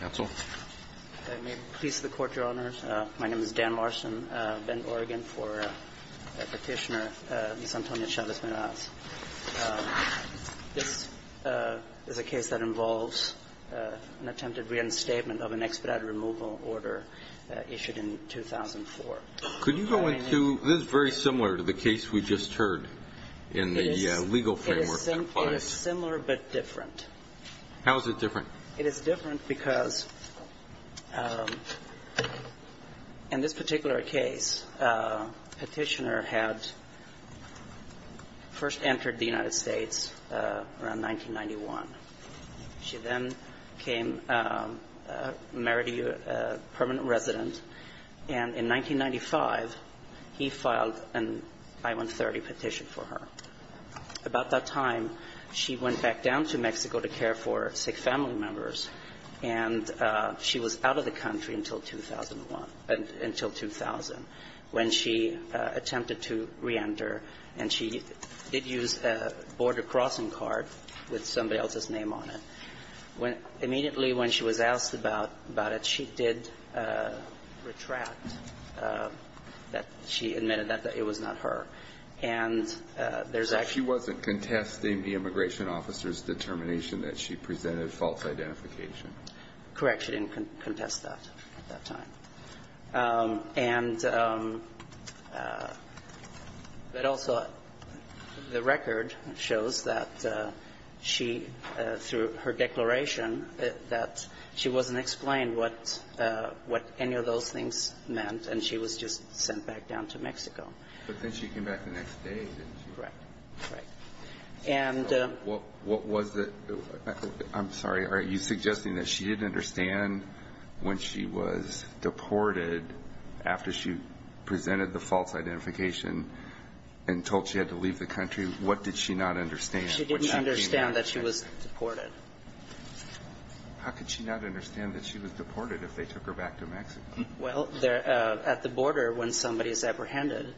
I'm pleased to report, Your Honors, my name is Dan Larson. I've been in Oregon for a petitioner, Ms. Antonia Chavez-Meraz. This is a case that involves an attempted reinstatement of an expedited removal order issued in 2004. Could you go into – this is very similar to the case we just heard in the legal framework that applies. It is similar but different. How is it different? It is different because in this particular case, a petitioner had first entered the United States around 1991. She then came, married a permanent resident, and in 1995, he filed an I-130 petition for her. About that time, she went back down to Mexico to care for sick family members. And she was out of the country until 2001 – until 2000 when she attempted to reenter. And she did use a border crossing card with somebody else's name on it. Immediately when she was asked about it, she did retract that she admitted that it was not her. And there's actually – So she wasn't contesting the immigration officer's determination that she presented false identification? Correct. She didn't contest that at that time. And – but also, the record shows that she, through her declaration, that she wasn't explained what any of those things meant, and she was just sent back down to Mexico. But then she came back the next day, didn't she? Correct. And – What was the – I'm sorry. Are you suggesting that she didn't understand when she was deported, after she presented the false identification and told she had to leave the country, what did she not understand? She didn't understand that she was deported. How could she not understand that she was deported if they took her back to Mexico? Well, at the border, when somebody is apprehended,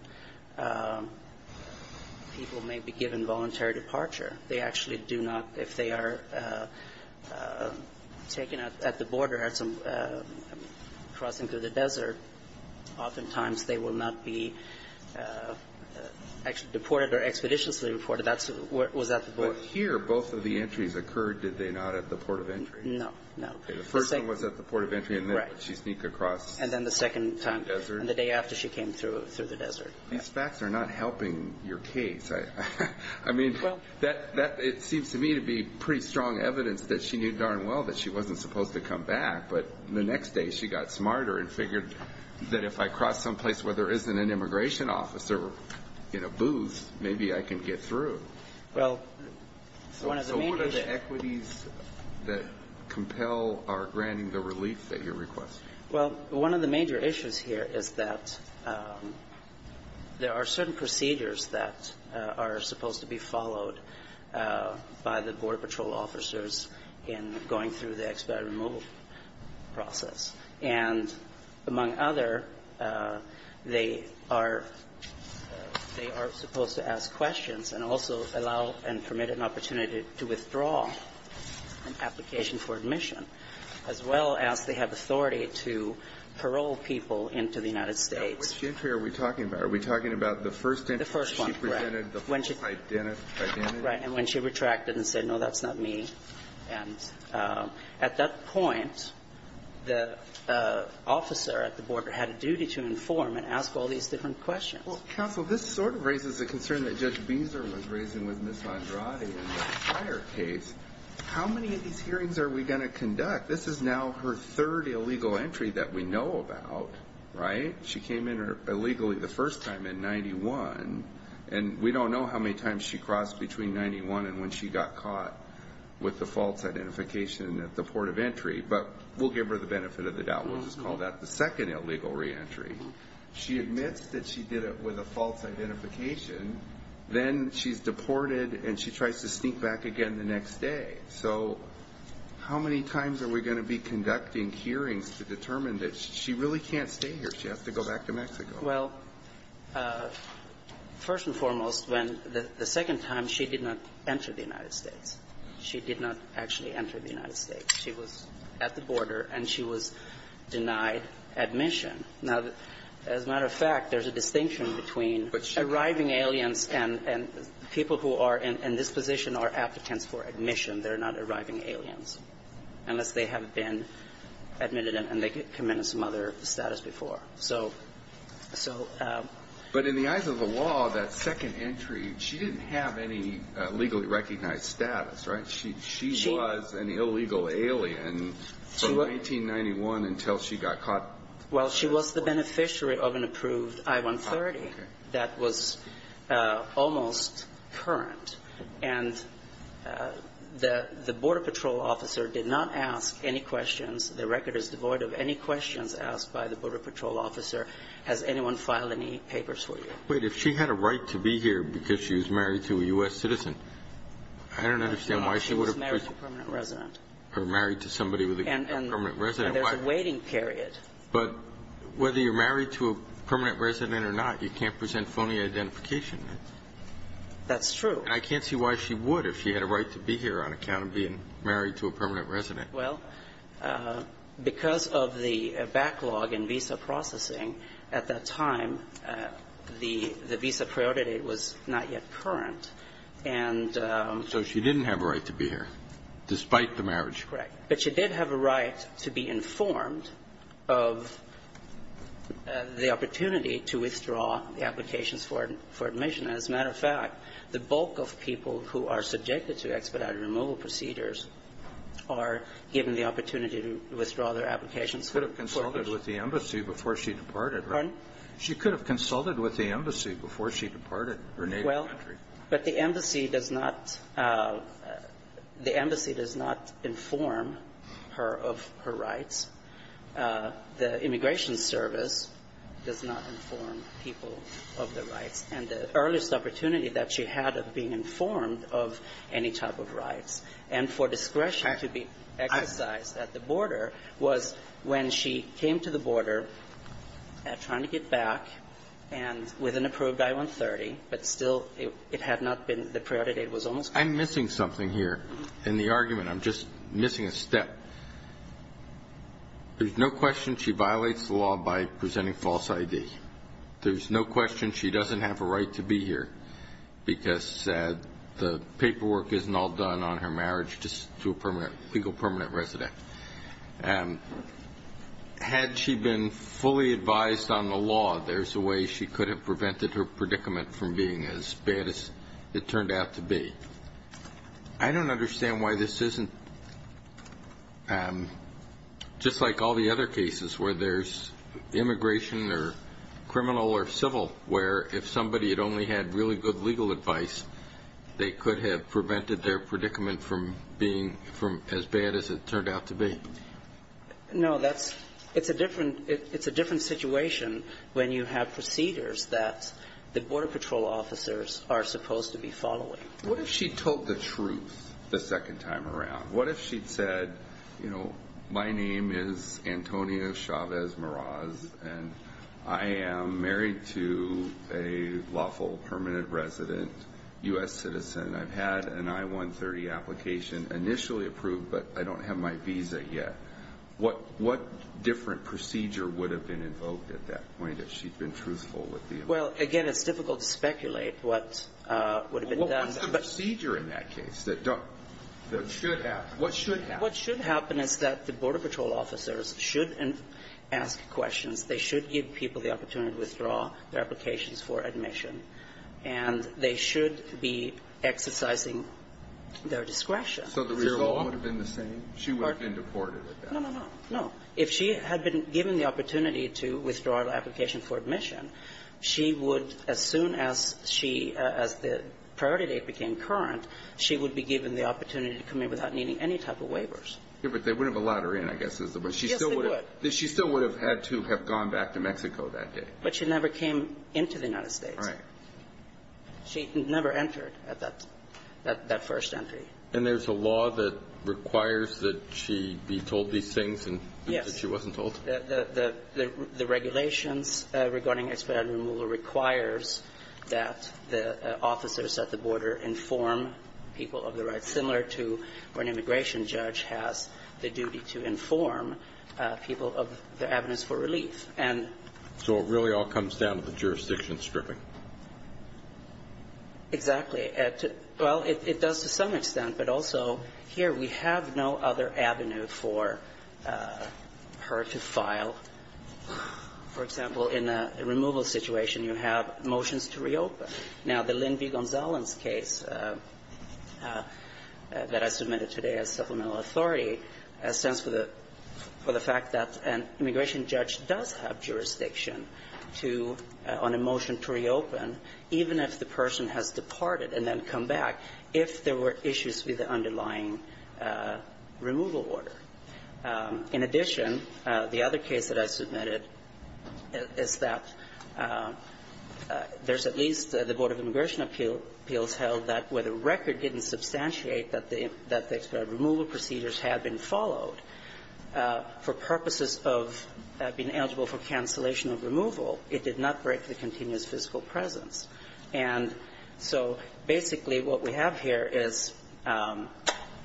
people may be given voluntary departure. They actually do not – if they are taken at the border, crossing through the desert, oftentimes they will not be actually deported or expeditiously deported. That's what was at the border. But here, both of the entries occurred, did they not, at the port of entry? No. No. The first one was at the port of entry, and then she sneaked across the desert. And then the second time, the day after she came through the desert. These facts are not helping your case. I mean, it seems to me to be pretty strong evidence that she knew darn well that she wasn't supposed to come back. But the next day, she got smarter and figured that if I cross someplace where there isn't an immigration office or a booth, maybe I can get through. Well, one of the main – The equities that compel are granting the relief that you're requesting. Well, one of the major issues here is that there are certain procedures that are supposed to be followed by the Border Patrol officers in going through the expat removal process. And among other, they are – they are supposed to ask questions and also allow and permit an opportunity to withdraw an application for admission, as well as they have authority to parole people into the United States. Now, which entry are we talking about? Are we talking about the first entry? The first one, right. When she presented the full identity? Right. And when she retracted and said, no, that's not me. And at that point, the officer at the border had a duty to inform and ask all these different questions. Well, counsel, this sort of raises a concern that Judge Beezer was raising with Ms. Andrade in the prior case. How many of these hearings are we going to conduct? This is now her third illegal entry that we know about, right? She came in illegally the first time in 91. And we don't know how many times she crossed between 91 and when she got caught with the false identification at the port of entry. But we'll give her the benefit of the doubt. We'll just call that the second illegal reentry. She admits that she did it with a false identification. Then she's deported, and she tries to sneak back again the next day. So how many times are we going to be conducting hearings to determine that she really can't stay here, she has to go back to Mexico? Well, first and foremost, when the second time, she did not enter the United States. She did not actually enter the United States. She was at the border, and she was denied admission. Now, as a matter of fact, there's a distinction between arriving aliens and people who are in this position are applicants for admission. They're not arriving aliens unless they have been admitted and they've committed some other status before. But in the eyes of the law, that second entry, she didn't have any legally recognized status, right? She was an illegal alien from 1991 until she got caught. Well, she was the beneficiary of an approved I-130 that was almost current. And the Border Patrol officer did not ask any questions. The record is devoid of any questions asked by the Border Patrol officer. Has anyone filed any papers for you? Wait. If she had a right to be here because she was married to a U.S. citizen, I don't understand why she would have... She was married to a permanent resident. Or married to somebody with a permanent resident. And there's a waiting period. But whether you're married to a permanent resident or not, you can't present phony identification. That's true. And I can't see why she would if she had a right to be here on account of being married to a permanent resident. Well, because of the backlog in visa processing at that time, the visa priority was not yet current, and... So she didn't have a right to be here, despite the marriage. Correct. But she did have a right to be informed of the opportunity to withdraw the applications for admission. As a matter of fact, the bulk of people who are subjected to expedited removal procedures are given the opportunity to withdraw their applications. She could have consulted with the embassy before she departed. Pardon? She could have consulted with the embassy before she departed her native country. But the embassy does not... The embassy does not inform her of her rights. The immigration service does not inform people of their rights. And the earliest opportunity that she had of being informed of any type of rights, and for discretion to be exercised at the border, was when she came to the border, trying to get back, and with an approved I-130, but still it had not been... The priority date was almost... I'm missing something here in the argument. I'm just missing a step. There's no question she violates the law by presenting false ID. There's no question she doesn't have a right to be here, because the paperwork isn't all done on her marriage just to a legal permanent resident. Had she been fully advised on the law, there's a way she could have prevented her predicament from being as bad as it turned out to be. I don't understand why this isn't just like all the other cases where there's immigration or criminal or civil where if somebody had only had really good legal advice, they could have prevented their predicament from being as bad as it turned out to be. No, that's... It's a different situation when you have procedures that the border patrol officers are supposed to be following. What if she told the truth the second time around? What if she'd said, you know, my name is Antonio Chavez-Moraz, and I am married to a lawful permanent resident, U.S. citizen. I've had an I-130 application initially approved, but I don't have my visa yet. What different procedure would have been invoked at that point if she'd been truthful with the... Well, again, it's difficult to speculate what would have been done. What's the procedure in that case that should happen? What should happen is that the border patrol officers should ask questions. They should give people the opportunity to withdraw their applications for admission, and they should be exercising their discretion. So the result would have been the same? She would have been deported at that point. No, no, no. If she had been given the opportunity to withdraw her application for admission, she would, as soon as she... as the priority date became current, she would be given the opportunity to come in without needing any type of waivers. Yeah, but they would have allowed her in, I guess. Yes, they would. She still would have had to have gone back to Mexico that day. But she never came into the United States. Right. She never entered at that first entry. And there's a law that requires that she be told these things and... Yes. ...that she wasn't told? The regulations regarding expedited removal requires that the officers at the border inform people of their rights, similar to when an immigration judge has the duty to inform people of their evidence for relief. And... So it really all comes down to the jurisdiction stripping. Exactly. Well, it does to some extent, but also here we have no other avenue for her to file. For example, in a removal situation, you have motions to reopen. Now, the Lynn B. Gonzalez case that I submitted today as supplemental authority stands for the fact that an immigration judge does have jurisdiction to... on a motion to reopen, even if the person has departed and then come back, if there were issues with the underlying removal order. In addition, the other case that I submitted is that there's at least the Board of Immigration Appeals held that where the record didn't substantiate that the expedited removal procedures had been followed, for purposes of being eligible for cancellation of removal, it did not break the continuous physical presence. And so basically what we have here is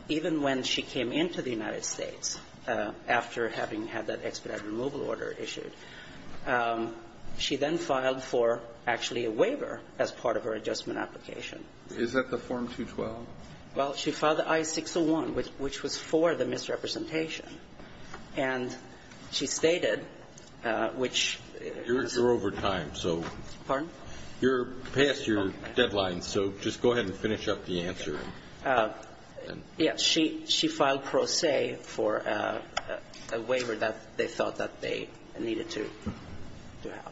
even when she came into the United States after having had that expedited removal order issued, she then filed for actually a waiver as part of her adjustment application. Is that the Form 212? Well, she filed the I-601, which was for the misrepresentation. And she stated, which... You're over time, so... Pardon? You're past your deadline, so just go ahead and finish up the answer. Yeah, she filed pro se for a waiver that they felt that they needed to have.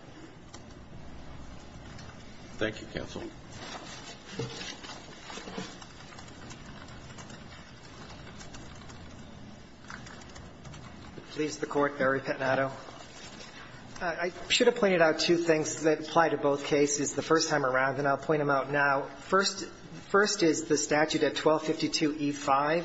Thank you, Counsel. Please, the Court, Barry Pettinato. I should have pointed out two things that apply to both cases the first time around, and I'll point them out now. First is the statute at 1252e5.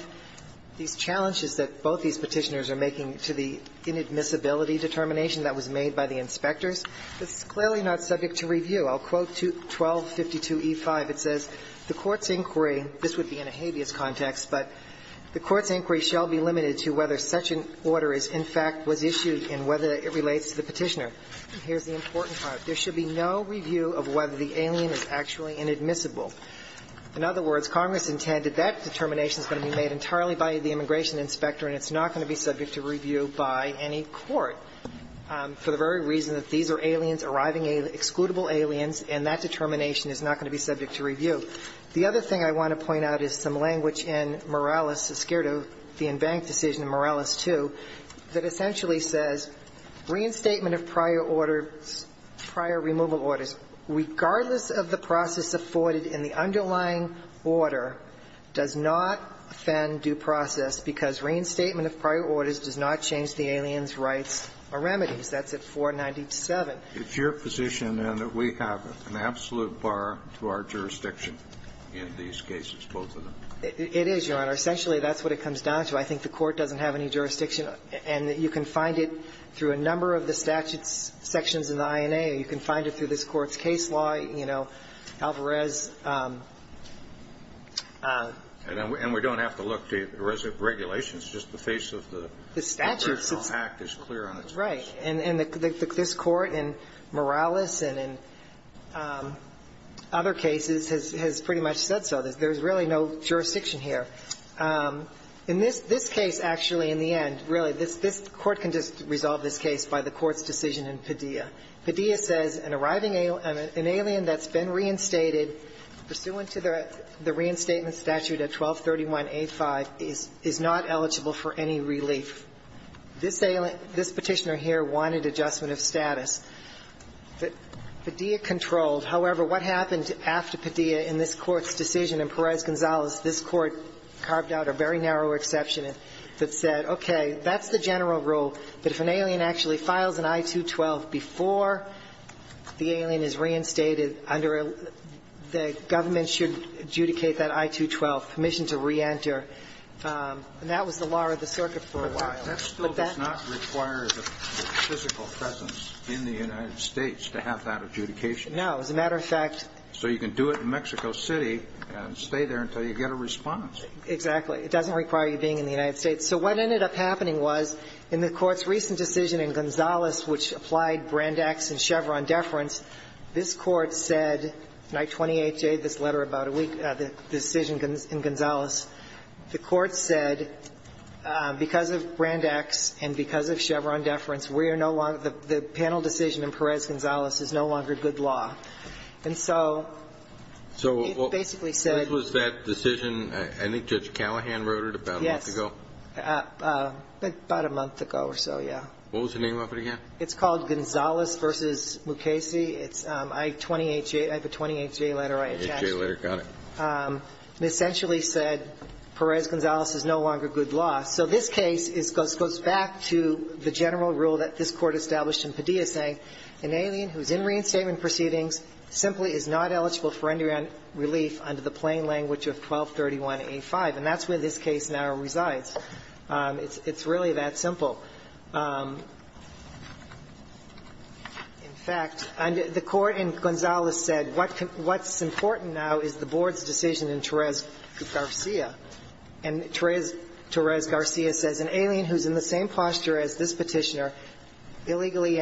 These challenges that both these Petitioners are making to the inadmissibility determination that was made by the inspectors, it's clearly not subject to review. I'll quote 1252e5. It says, The Court's inquiry... This would be in a habeas context, but the Court's inquiry shall be limited to whether such an order in fact was issued and whether it relates to the Petitioner. And here's the important part. There should be no review of whether the alien is actually inadmissible. In other words, Congress intended that determination's going to be made entirely by the immigration inspector, and it's not going to be subject to review by any court for the very reason that these are aliens, arriving aliens, excludable aliens, and that determination is not going to be subject to review. The other thing I want to point out is some language in Morales, the Inbank decision in Morales 2, that essentially says reinstatement of prior orders, prior removal orders, regardless of the process afforded in the underlying order, does not offend due process because reinstatement of prior orders does not change the alien's rights or remedies. That's at 497. It's your position, then, that we have an absolute bar to our jurisdiction in these cases, both of them? It is, Your Honor. Essentially, that's what it comes down to. I think the Court doesn't have any jurisdiction. And you can find it through a number of the statutes sections in the INA. You can find it through this Court's case law, you know, Alvarez. And we don't have to look to the regulations. It's just the face of the... The statutes. Act is clear on its face. Right. And this Court in Morales and in other cases has pretty much said so. There's really no jurisdiction here. In this case, actually, in the end, really, this Court can just resolve this case by the Court's decision in Padilla. Padilla says an arriving alien, an alien that's been reinstated pursuant to the reinstatement statute at 1231A5 is not eligible for any relief. This petitioner here wanted adjustment of status. Padilla controlled. However, what happened after Padilla in this Court's decision and Perez-Gonzalez, this Court carved out a very narrow exception that said, okay, that's the general rule, but if an alien actually files an I-212 before the alien is reinstated under a... the government should adjudicate that I-212, permission to reenter. And that was the law of the circuit for a while. But that still does not require the physical presence in the United States to have that adjudication. No. As a matter of fact... So you can do it in Mexico City and stay there until you get a response. Exactly. It doesn't require you being in the United States. So what ended up happening was in the Court's recent decision in Gonzales which applied Brand X and Chevron deference, this Court said, night 28A, this letter about a week, the decision in Gonzales, the Court said because of Brand X and because of Chevron deference, we are no longer, the panel decision in Perez-Gonzales is no longer good law. And so it basically said... So what was that decision? I think Judge Callahan wrote it about a month ago. Yes. About a month ago or so, yeah. What was the name of it again? It's called Gonzales v. Mukasey. It's I-28J. I have a 28-J letter. 28-J letter. Got it. It essentially said Perez-Gonzales is no longer good law. So this case goes back to the general rule that this Court established in Padilla saying an alien who is in reinstatement proceedings simply is not eligible for endurance relief under the plain language of 1231A5. And that's where this case now resides. It's really that simple. In fact, the Court in Gonzales said what's important now is the Board's decision in Torres-Garcia. And Torres-Garcia says an alien who's in the same posture as this Petitioner illegally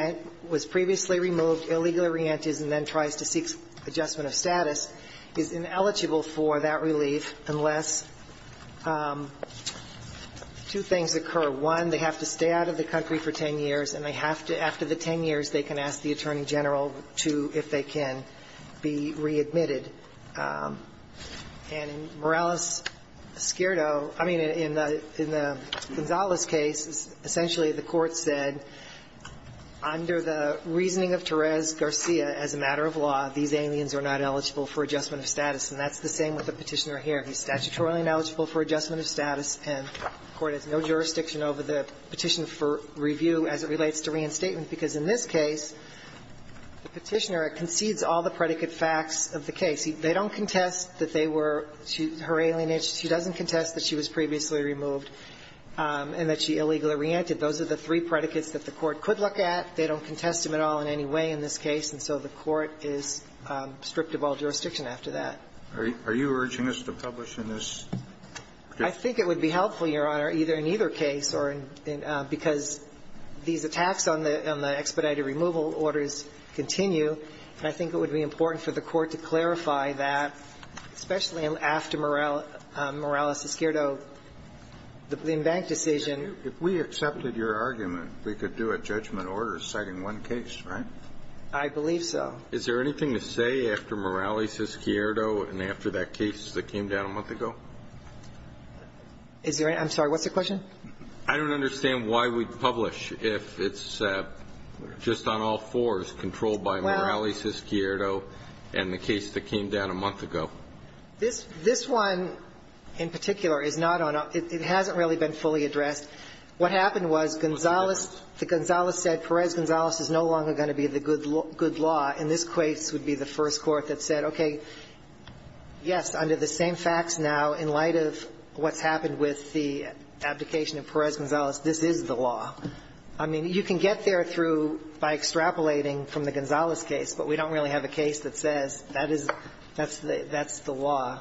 was previously removed, illegally re-enters, and then tries to seek adjustment of status, is ineligible for that relief unless two things occur. One, they have to stay out of the country for 10 years, and they have to, after the 10 years, they can ask the Attorney General to, if they can, be readmitted. And Morales-Escurdo, I mean, in the Gonzales case, essentially the Court said, under the reasoning of Torres-Garcia, as a matter of law, these aliens are not eligible for adjustment of status. And that's the same with the Petitioner here. He's statutorily ineligible for adjustment of status, and the Court has no jurisdiction over the petition for review as it relates to reinstatement, because in this case, the Petitioner concedes all the predicate facts of the case. They don't contest that they were, her alien age, she doesn't contest that she was previously removed and that she illegally re-entered. Those are the three predicates that the Court could look at. They don't contest them at all in any way in this case, and so the Court is stripped of all jurisdiction after that. Are you urging us to publish in this case? I think it would be helpful, Your Honor, either in either case or in, because these attacks on the expedited removal orders continue, and I think it would be important for the Court to clarify that, especially after Morales-Escurdo the Bloom-Bank decision. If we accepted your argument, we could do a judgment order citing one case, right? I believe so. Is there anything to say after Morales-Escurdo and after that case that came down a month ago? Is there any? I'm sorry. What's the question? I don't understand why we'd publish if it's just on all fours, controlled by Morales-Escurdo and the case that came down a month ago. This one in particular hasn't really been fully addressed. What happened was Gonzales said Perez-Gonzales is no longer going to be the good law, and this case would be the first court that said, okay, yes, under the same facts now, in light of what's happened with the abdication of Perez-Gonzales, this is the law. I mean, you can get there through by extrapolating from the Gonzales case, but we don't really have a case that says that's the law.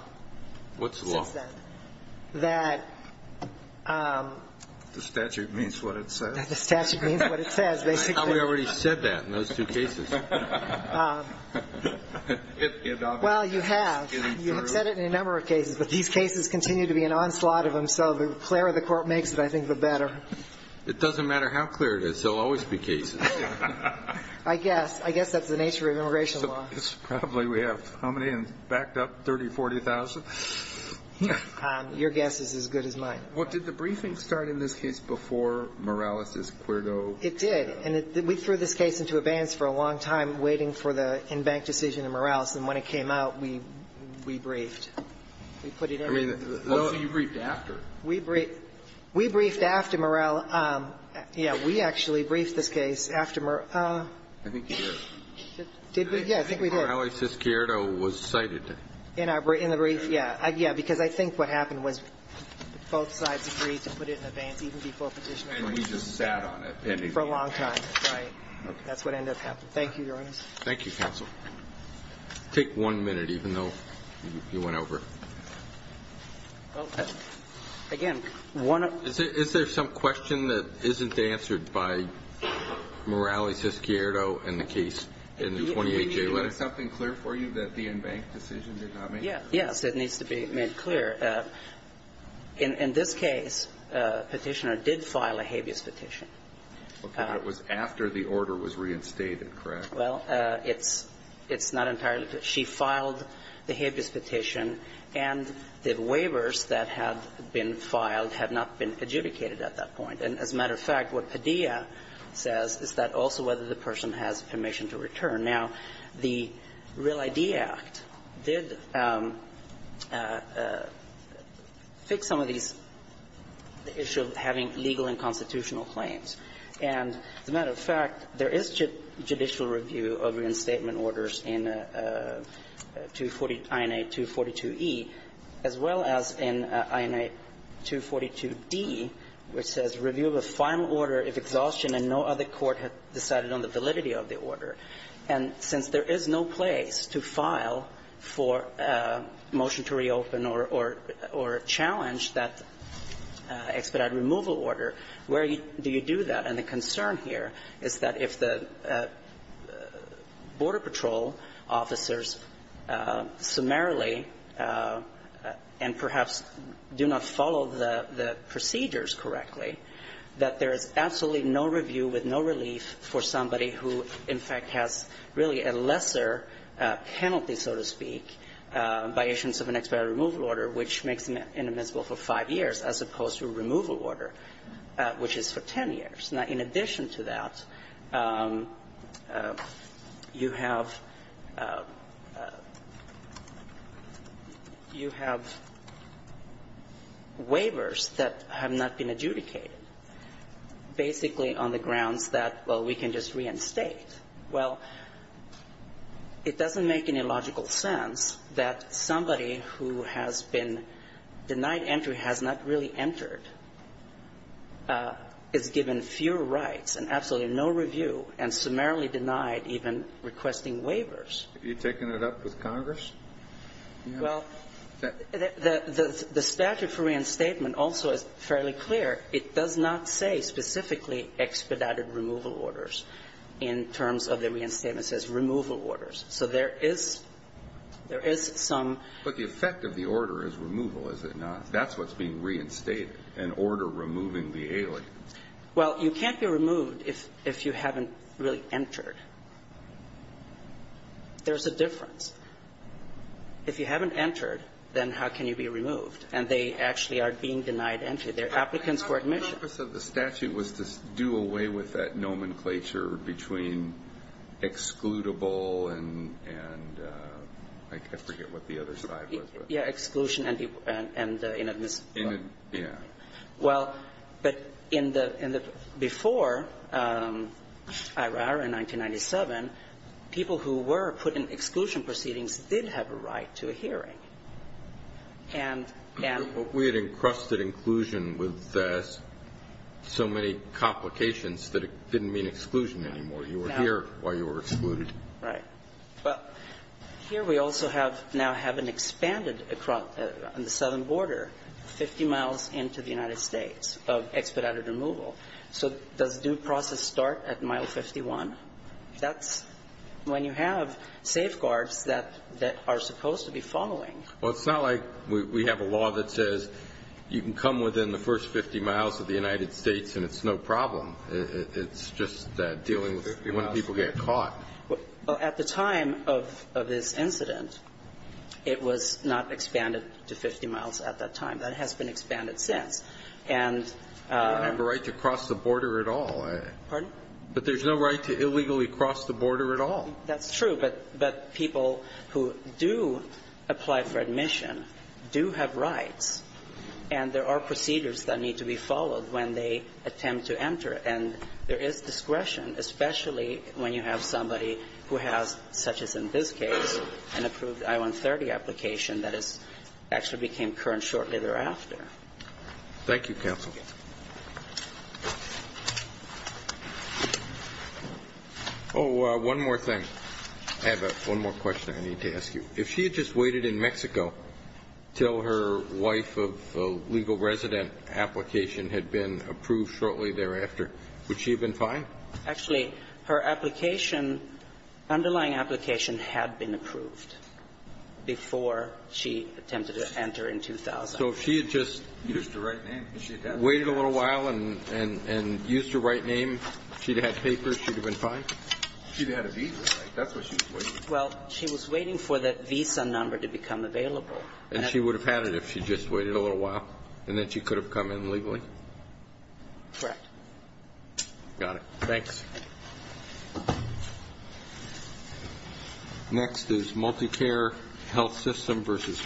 What's the law? The statute means what it says. The statute means what it says, basically. I thought we already said that in those two cases. Well, you have. You have said it in a number of cases, but these cases continue to be an onslaught of them, so the clearer the court makes it, I think, the better. It doesn't matter how clear it is. There will always be cases. I guess. I guess that's the nature of immigration law. Probably we have how many backed up? 30,000, 40,000? Your guess is as good as mine. Well, did the briefing start in this case before Morales's, Quirdo? It did. And we threw this case into abeyance for a long time waiting for the in-bank decision in Morales, and when it came out, we briefed. We put it in. So you briefed after. We briefed after Morales. Yes. We actually briefed this case after Morales. I think you did. Did we? Yes, I think we did. Morales's-Quirdo was cited. In the brief? Yes. Because I think what happened was both sides agreed to put it in abeyance even before Petitioner- And we just sat on it. For a long time. Right. That's what ended up happening. Thank you, Your Honor. Thank you, Counsel. Take one minute, even though you went over. Again, one of- Is there some question that isn't answered by Morales's-Quirdo in the case, in the 28-J letter? Do we need to do something clear for you that the in-bank decision did not make? Yes. It needs to be made clear. In this case, Petitioner did file a habeas petition. Okay. But it was after the order was reinstated, correct? Well, it's not entirely- She filed the habeas petition and the waivers that had been filed had not been adjudicated at that point. And as a matter of fact, what Padilla says is that also whether the person has permission to return. Now, the Real ID Act did fix some of these the issue of having legal and constitutional claims. And as a matter of fact, there is judicial review of reinstatement orders in INA 242E as well as in INA 242D, which says, review of a final order if exhaustion and no other court had decided on the validity of the order. And since there is no place to file for a motion to reopen or challenge that expedited removal order, where do you do that? And the concern here is that if the Border Patrol officers summarily and perhaps do not follow the procedures correctly, that there is absolutely no review with no relief for somebody who in fact has really a lesser penalty, so to speak, by issuance of an expedited removal order which makes them inadmissible for five years as opposed to a removal order which is for ten years. Now, in addition to that, you have you have waivers that have not been adjudicated basically on the grounds that, well, we can just reinstate. Well, it doesn't make any logical sense that somebody who has been denied entry, has not really entered, is given fewer rights and absolutely no review and summarily denied even requesting waivers. Have you taken it up with Congress? Well, the statute for reinstatement also is fairly clear. It does not say specifically expedited removal orders in terms of the reinstatement says removal orders. So there is there is some But the effect of the order is removal, is it not? That's what's being reinstated, an order removing the alien. Well, you can't be removed if you haven't really entered. There's a difference. If you haven't entered, then how can you be removed? And they actually are being denied entry. They're applicants for admission. The purpose of the statute was to do away with that nomenclature between excludable and I forget what the other side was. Yeah, exclusion and inadmissibility. Yeah. Well, but in the before IRR in 1997, people who were put in exclusion proceedings did have a right to a hearing. And We had encrusted inclusion with so many complications that it didn't mean exclusion anymore. You were here while you were excluded. Right. Well, here we also have now have an expanded across on the southern border 50 miles into the United States of expedited removal. So does due process start at mile 51? That's when you have safeguards that that are supposed to be following. Well, it's not like we have a law that says you can come within the first 50 miles of the United States and it's no problem. It's just that dealing with when people get caught. Well, at the time of this incident, it was not expanded to 50 miles at that time. That has been expanded since. And I have a right to cross the border at all. Pardon? But there's no right to illegally cross the border at all. That's true. But people who do apply for admission do have rights. And there are procedures that need to be followed when they attempt to enter. And there is discretion, especially when you have somebody who has, such as in this case, an approved I-130 application that is actually became current shortly thereafter. Thank you, counsel. Oh, one more thing. I have one more question I need to ask you. If she had just waited in Mexico until her wife of a legal resident application had been approved shortly thereafter, would she have been fine? Actually, her application, underlying application, had been approved before she attempted to enter in 2000. So if she had just waited a little while and and used her right name, she'd have had papers, she'd have been fine? She'd have had a visa, right? That's what she was waiting for. Well, she was waiting for that visa number to become available. And she would have had it if she'd just waited a little while and then she could have come in legally? Correct. Got it. Thanks. Next is MultiCare Health System